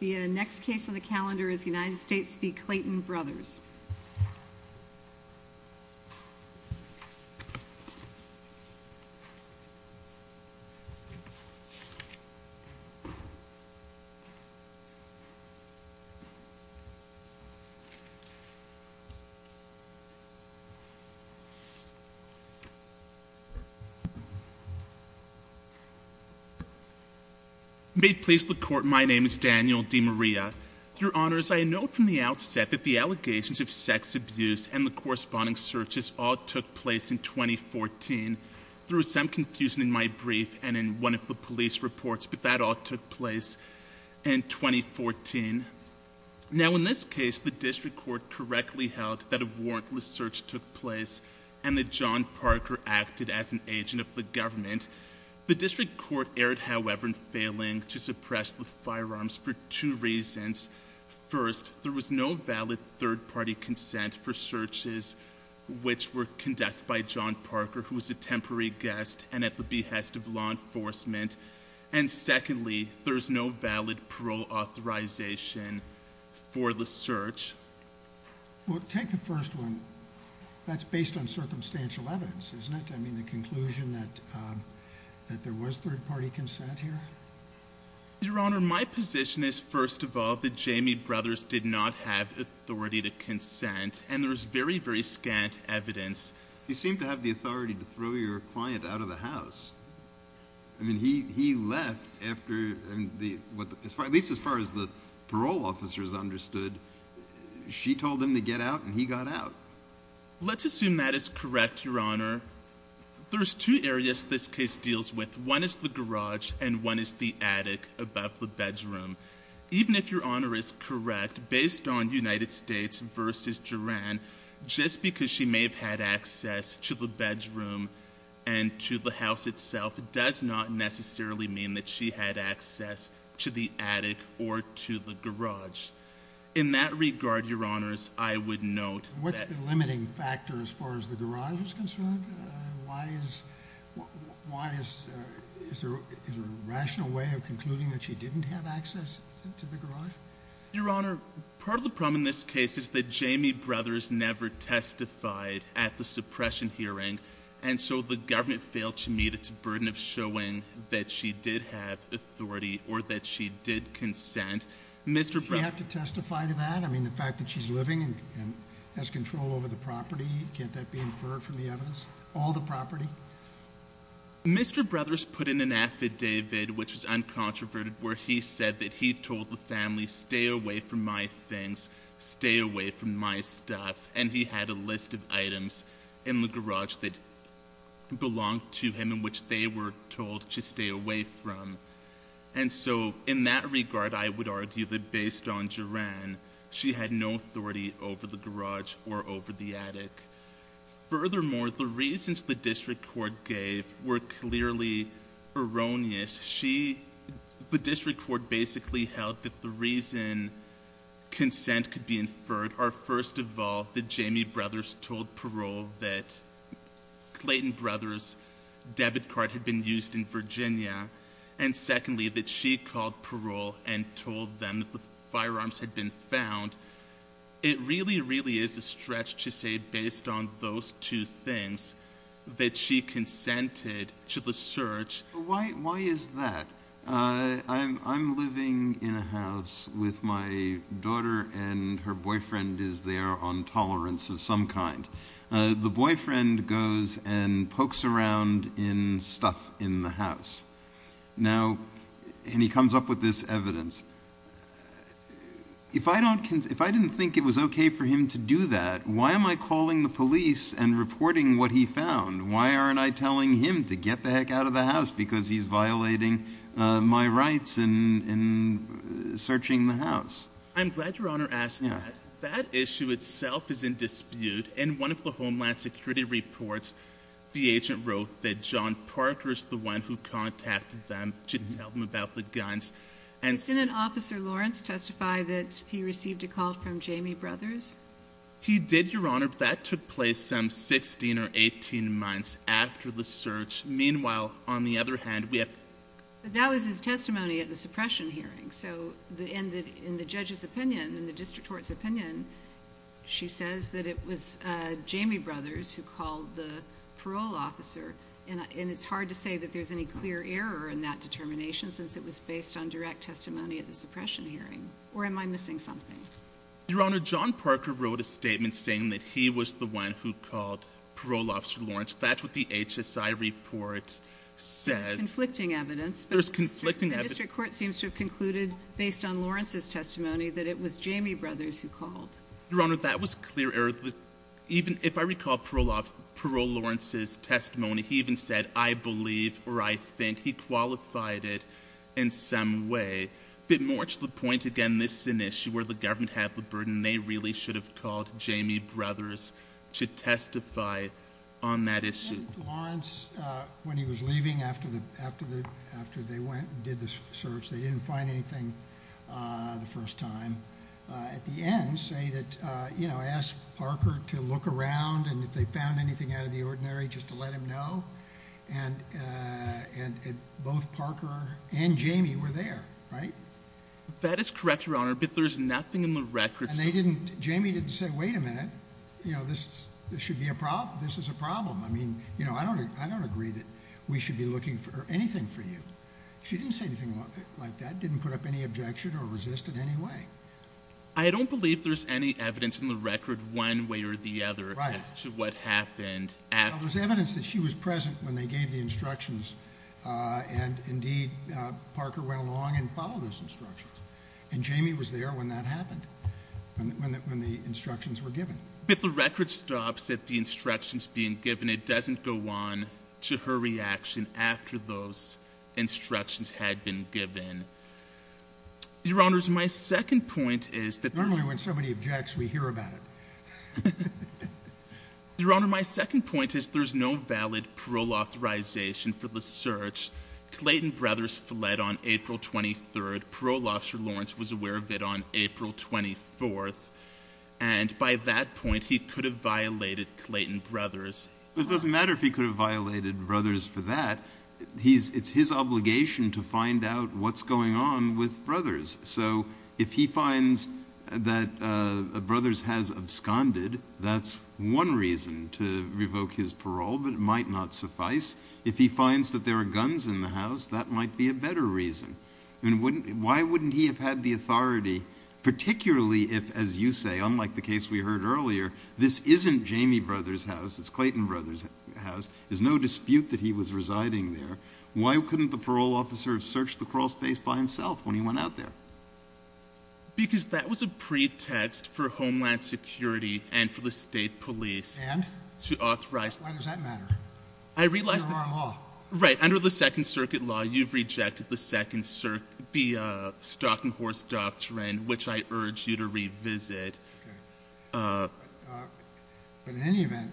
The next case on the calendar is United States v. Clayton Brothers. May it please the Court, my name is Daniel DeMaria. Your Honors, I note from the outset that the allegations of sex abuse and the corresponding searches all took place in 2014. There was some confusion in my brief and in one of the police reports, but that all took place in 2014. Now in this case, the District Court correctly held that a warrantless search took place The District Court erred, however, in failing to suppress the firearms for two reasons. First, there was no valid third-party consent for searches which were conducted by John Parker, who was a temporary guest and at the behest of law enforcement. And secondly, there was no valid parole authorization for the search. Take the first one. That's based on circumstantial evidence, isn't it? I mean, the conclusion that there was third-party consent here? Your Honor, my position is, first of all, that Jamie Brothers did not have authority to consent and there is very, very scant evidence. He seemed to have the authority to throw your client out of the house. I mean, he left after, at least as far as the parole officers understood, she told him to get out and he got out. Let's assume that is correct, Your Honor. There's two areas this case deals with. One is the garage and one is the attic above the bedroom. Even if Your Honor is correct, based on United States versus Duran, just because she may have had access to the bedroom and to the house itself does not necessarily mean that she had access to the attic or to the garage. In that regard, Your Honors, I would note that— What's the limiting factor as far as the garage is concerned? Why is—is there a rational way of concluding that she didn't have access to the garage? Your Honor, part of the problem in this case is that Jamie Brothers never testified at the suppression hearing and so the government failed to meet its burden of showing that she did have authority or that she did consent. Did she have to testify to that? I mean, the fact that she's living and has control over the property, can't that be inferred from the evidence? All the property? Mr. Brothers put in an affidavit, which is uncontroverted, where he said that he told the family, stay away from my things, stay away from my stuff, and he had a list of items in the garage that belonged to him and which they were told to stay away from. And so, in that regard, I would argue that based on Duran, she had no authority over the garage or over the attic. Furthermore, the reasons the district court gave were clearly erroneous. The district court basically held that the reason consent could be inferred are, first of all, that Jamie Brothers told parole that Clayton Brothers' debit card had been used in Virginia, and secondly, that she called parole and told them that the firearms had been found. It really, really is a stretch to say, based on those two things, that she consented to the search. Why is that? I'm living in a house with my daughter and her boyfriend is there on tolerance of some kind. The boyfriend goes and pokes around in stuff in the house, and he comes up with this evidence. If I didn't think it was okay for him to do that, why am I calling the police and reporting what he found? Why aren't I telling him to get the heck out of the house because he's violating my rights in searching the house? I'm glad Your Honor asked that. That issue itself is in dispute. In one of the Homeland Security reports, the agent wrote that John Parker is the one who contacted them to tell them about the guns. Didn't Officer Lawrence testify that he received a call from Jamie Brothers? He did, Your Honor. That took place some 16 or 18 months after the search. Meanwhile, on the other hand, we have... That was his testimony at the suppression hearing. In the judge's opinion, in the district court's opinion, she says that it was Jamie Brothers who called the parole officer. It's hard to say that there's any clear error in that determination since it was based on direct testimony at the suppression hearing. Or am I missing something? Your Honor, John Parker wrote a statement saying that he was the one who called Parole Officer Lawrence. That's what the HSI report says. There's conflicting evidence. There's conflicting evidence. The district court seems to have concluded, based on Lawrence's testimony, that it was Jamie Brothers who called. Your Honor, that was clear error. If I recall parole Lawrence's testimony, he even said, I believe or I think he qualified it in some way. But more to the point, again, this is an issue where the government had the burden. They really should have called Jamie Brothers to testify on that issue. Lawrence, when he was leaving, after they went and did the search, they didn't find anything the first time. At the end, say that, you know, ask Parker to look around and if they found anything out of the ordinary, just to let him know. And both Parker and Jamie were there, right? That is correct, Your Honor, but there's nothing in the records. And they didn't, Jamie didn't say, wait a minute, you know, this should be a problem. This is a problem. I mean, you know, I don't, I don't agree that we should be looking for anything for you. She didn't say anything like that, didn't put up any objection or resist in any way. I don't believe there's any evidence in the record, one way or the other, as to what happened after. Well, there's evidence that she was present when they gave the instructions. And indeed, Parker went along and followed those instructions. And Jamie was there when that happened, when the instructions were given. But the record stops at the instructions being given. It doesn't go on to her reaction after those instructions had been given. Your Honor, my second point is that normally when somebody objects, we hear about it. Your Honor, my second point is there's no valid parole authorization for the search. Clayton Brothers fled on April 23rd. Parole Officer Lawrence was aware of it on April 24th. And by that point, he could have violated Clayton Brothers. It doesn't matter if he could have violated Brothers for that. It's his obligation to find out what's going on with Brothers. So if he finds that Brothers has absconded, that's one reason to revoke his parole, but it might not suffice. If he finds that there are guns in the house, that might be a better reason. And why wouldn't he have had the authority, particularly if, as you say, unlike the case we heard earlier, this isn't Jamie Brothers' house. It's Clayton Brothers' house. There's no dispute that he was residing there. Why couldn't the parole officer have searched the crawl space by himself when he went out there? Because that was a pretext for Homeland Security and for the state police. And? To authorize. Why does that matter? I realize that. Under our law. Right, under the Second Circuit law, you've rejected the Second Circuit, the Stalking Horse Doctrine, which I urge you to revisit. Okay, but in any event,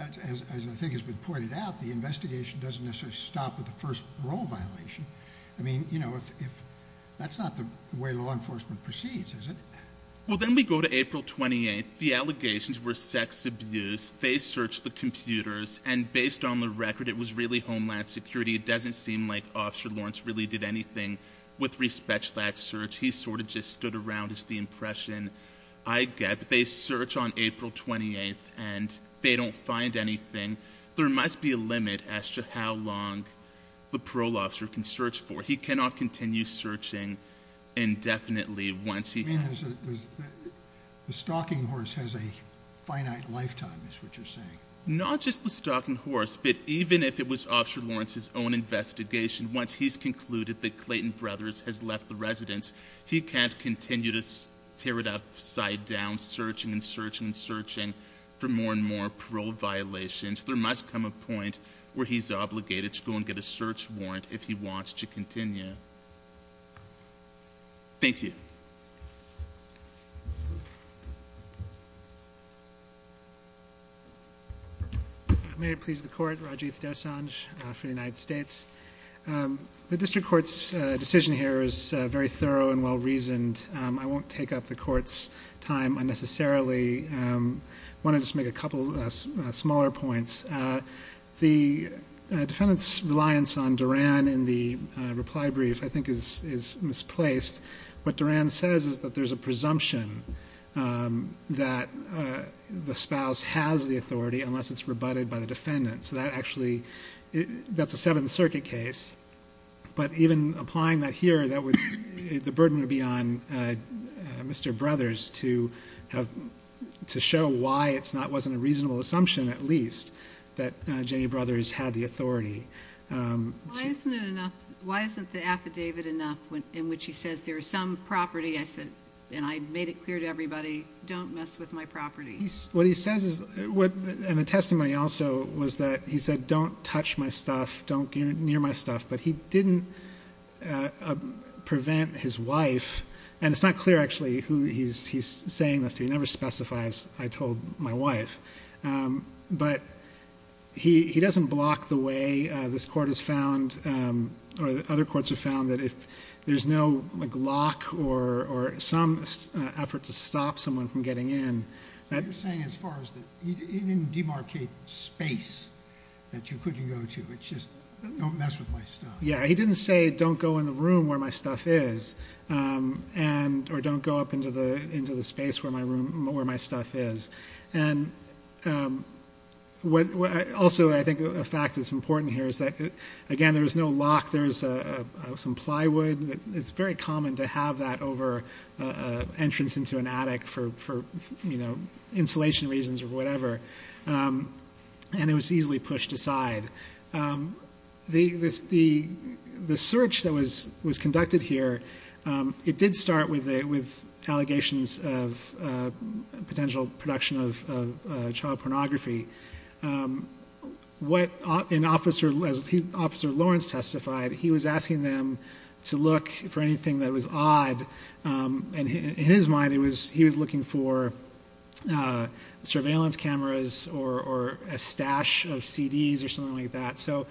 as I think has been pointed out, the investigation doesn't necessarily stop at the first parole violation. I mean, that's not the way law enforcement proceeds, is it? Well, then we go to April 28th, the allegations were sex abuse, they searched the computers, and based on the record, it was really Homeland Security. It doesn't seem like Officer Lawrence really did anything with respect to that search, he sort of just stood around, is the impression I get. But they search on April 28th, and they don't find anything. There must be a limit as to how long the parole officer can search for. He cannot continue searching indefinitely once he- I mean, the Stalking Horse has a finite lifetime, is what you're saying. Not just the Stalking Horse, but even if it was Officer Lawrence's own investigation, once he's concluded that Clayton Brothers has left the residence, he can't continue to tear it upside down, searching and searching and searching for more and more parole violations. There must come a point where he's obligated to go and get a search warrant if he wants to continue. Thank you. May it please the court, Rajiv Desanjh for the United States. The district court's decision here is very thorough and well-reasoned. I won't take up the court's time unnecessarily, I want to just make a couple smaller points. The defendant's reliance on Duran in the reply brief, I think, is misplaced. What Duran says is that there's a presumption that the spouse has the authority, unless it's rebutted by the defendant, so that actually, that's a Seventh Circuit case. But even applying that here, the burden would be on Mr. Brothers to show why it wasn't a reasonable assumption, at least, that Jenny Brothers had the authority. Why isn't it enough, why isn't the affidavit enough in which he says there's some property? I said, and I made it clear to everybody, don't mess with my property. What he says is, and the testimony also, was that he said don't touch my stuff, don't get near my stuff. But he didn't prevent his wife, and it's not clear actually who he's saying this to. He never specifies, I told my wife. But he doesn't block the way this court has found, or other courts have found, that if there's no lock or some effort to stop someone from getting in. I'm just saying as far as, he didn't demarcate space that you couldn't go to. It's just, don't mess with my stuff. Yeah, he didn't say, don't go in the room where my stuff is, or don't go up into the space where my stuff is. And also, I think a fact that's important here is that, again, there's no lock. There's some plywood. It's very common to have that over an entrance into an attic for insulation reasons or whatever, and it was easily pushed aside. The search that was conducted here, it did start with allegations of potential production of child pornography. What an officer, as Officer Lawrence testified, he was asking them to look for anything that was odd, and in his mind, he was looking for surveillance cameras or a stash of CDs or something like that. So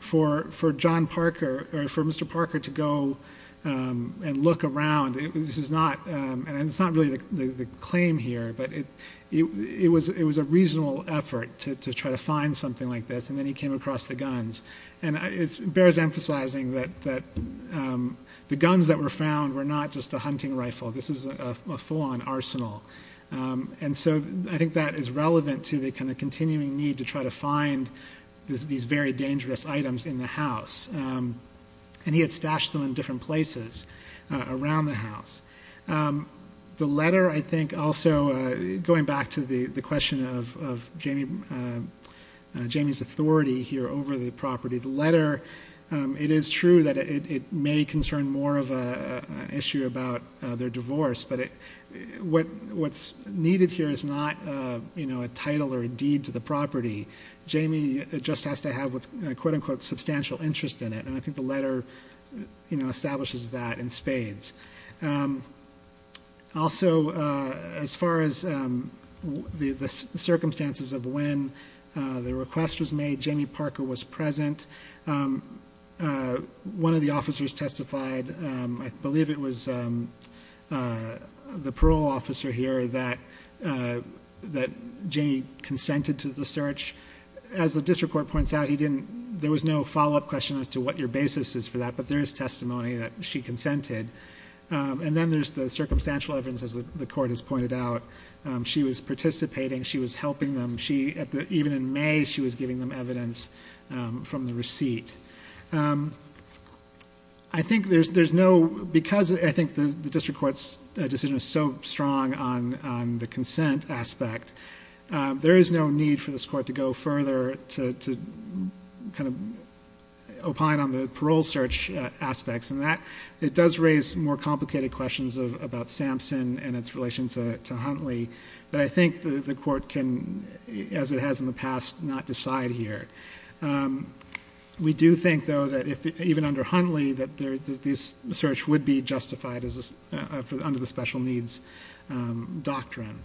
for John Parker, or for Mr. Parker to go and look around, and it's not really the claim here, but it was a reasonable effort to try to find something like this, and then he came across the guns. And it bears emphasizing that the guns that were found were not just a hunting rifle. This is a full-on arsenal. And so I think that is relevant to the kind of continuing need to try to find these very dangerous items in the house, and he had stashed them in different places around the house. The letter, I think, also, going back to the question of Jamie's authority here over the property, the letter, it is true that it may concern more of an issue about their divorce, but what's needed here is not a title or a deed to the property. Jamie just has to have a quote unquote substantial interest in it, and I think the letter establishes that in spades. Also, as far as the circumstances of when the request was made, Jamie Parker was present. One of the officers testified, I believe it was the parole officer here that Jamie consented to the search. As the district court points out, there was no follow-up question as to what your basis is for that, but there is testimony that she consented. And then there's the circumstantial evidence, as the court has pointed out. She was participating, she was helping them, even in May, she was giving them evidence from the receipt. I think there's no, because I think the district court's decision is so strong on the consent aspect, there is no need for this court to go further to kind of opine on the parole search aspects. And that, it does raise more complicated questions about Sampson and its relation to Huntley. But I think the court can, as it has in the past, not decide here. We do think, though, that even under Huntley, that this search would be justified under the special needs doctrine.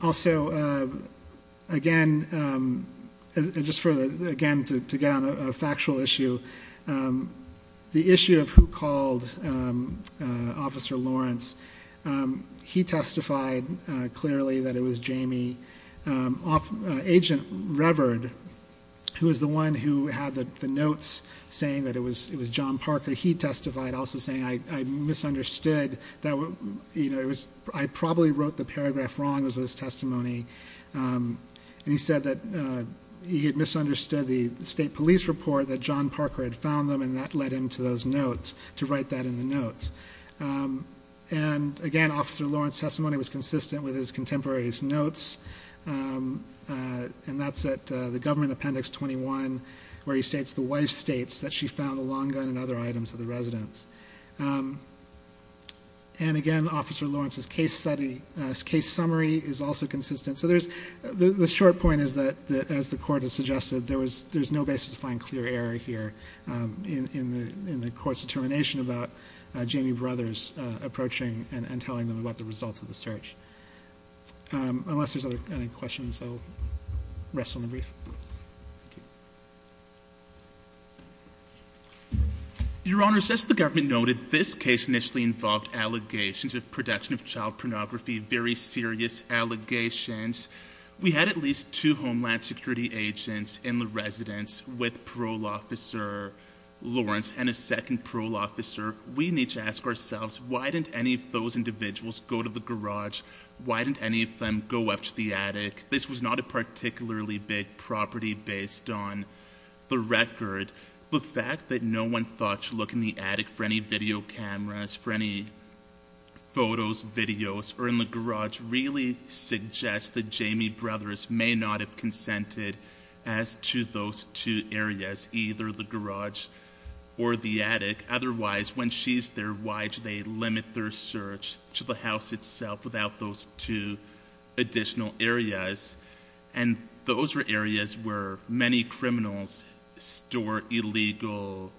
Also, again, just for the, again, to get on a factual issue. The issue of who called Officer Lawrence, he testified clearly that it was Jamie. Agent Revered, who is the one who had the notes saying that it was John Parker. But he testified also saying, I misunderstood, I probably wrote the paragraph wrong, was his testimony. And he said that he had misunderstood the state police report that John Parker had found them, and that led him to those notes, to write that in the notes. And again, Officer Lawrence's testimony was consistent with his contemporaries' notes. And that's at the Government Appendix 21, where he states, the wife states that she found a long gun and other items of the residence. And again, Officer Lawrence's case summary is also consistent. So there's, the short point is that, as the court has suggested, there's no basis to find clear error here. In the court's determination about Jamie Brothers approaching and telling them about the results of the search. Unless there's any other questions, I'll rest on the brief. Thank you. Your Honor, as the government noted, this case initially involved allegations of production of child pornography, very serious allegations. We had at least two Homeland Security agents in the residence with parole officer Lawrence and a second parole officer. We need to ask ourselves, why didn't any of those individuals go to the garage? Why didn't any of them go up to the attic? This was not a particularly big property based on the record. The fact that no one thought to look in the attic for any video cameras, for any photos, videos, or in the garage, really suggests that Jamie Brothers may not have consented as to those two areas. Either the garage or the attic. Otherwise, when she's there, why should they limit their search to the house itself without those two additional areas? And those are areas where many criminals store illegal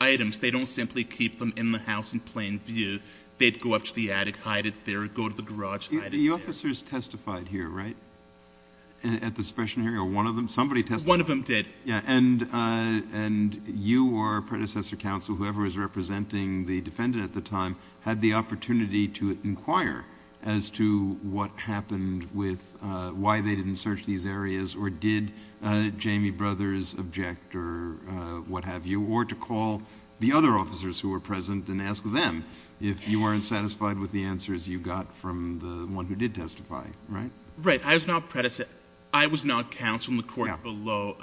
items. They don't simply keep them in the house in plain view. They'd go up to the attic, hide it there, go to the garage, hide it there. The officers testified here, right? At the special hearing, or one of them? Somebody testified. One of them did. Yeah, and you or a predecessor counsel, whoever was representing the defendant at the time, had the opportunity to inquire as to what happened with why they didn't search these areas, or did Jamie Brothers object, or what have you, or to call the other officers who were present and ask them if you weren't satisfied with the answers you got from the one who did testify, right? Right, I was not a predecessor. I was not counsel in the court below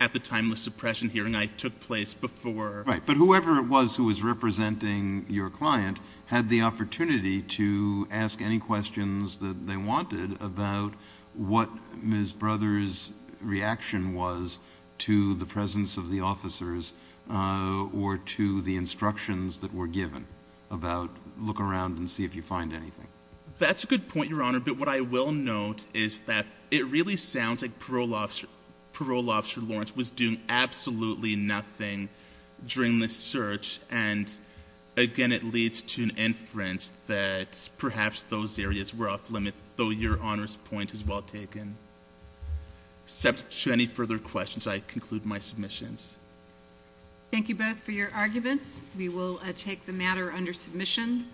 at the timeless suppression hearing I took place before. Right, but whoever it was who was representing your client had the opportunity to ask any questions that they wanted about what Ms. Brothers' reaction was to the presence of the officers or to the instructions that were given about look around and see if you find anything. That's a good point, Your Honor, but what I will note is that it really sounds like parole officer Lawrence was doing absolutely nothing during this search. And again, it leads to an inference that perhaps those areas were off limit, though your Honor's point is well taken, except to any further questions, I conclude my submissions. Thank you both for your arguments. We will take the matter under submission.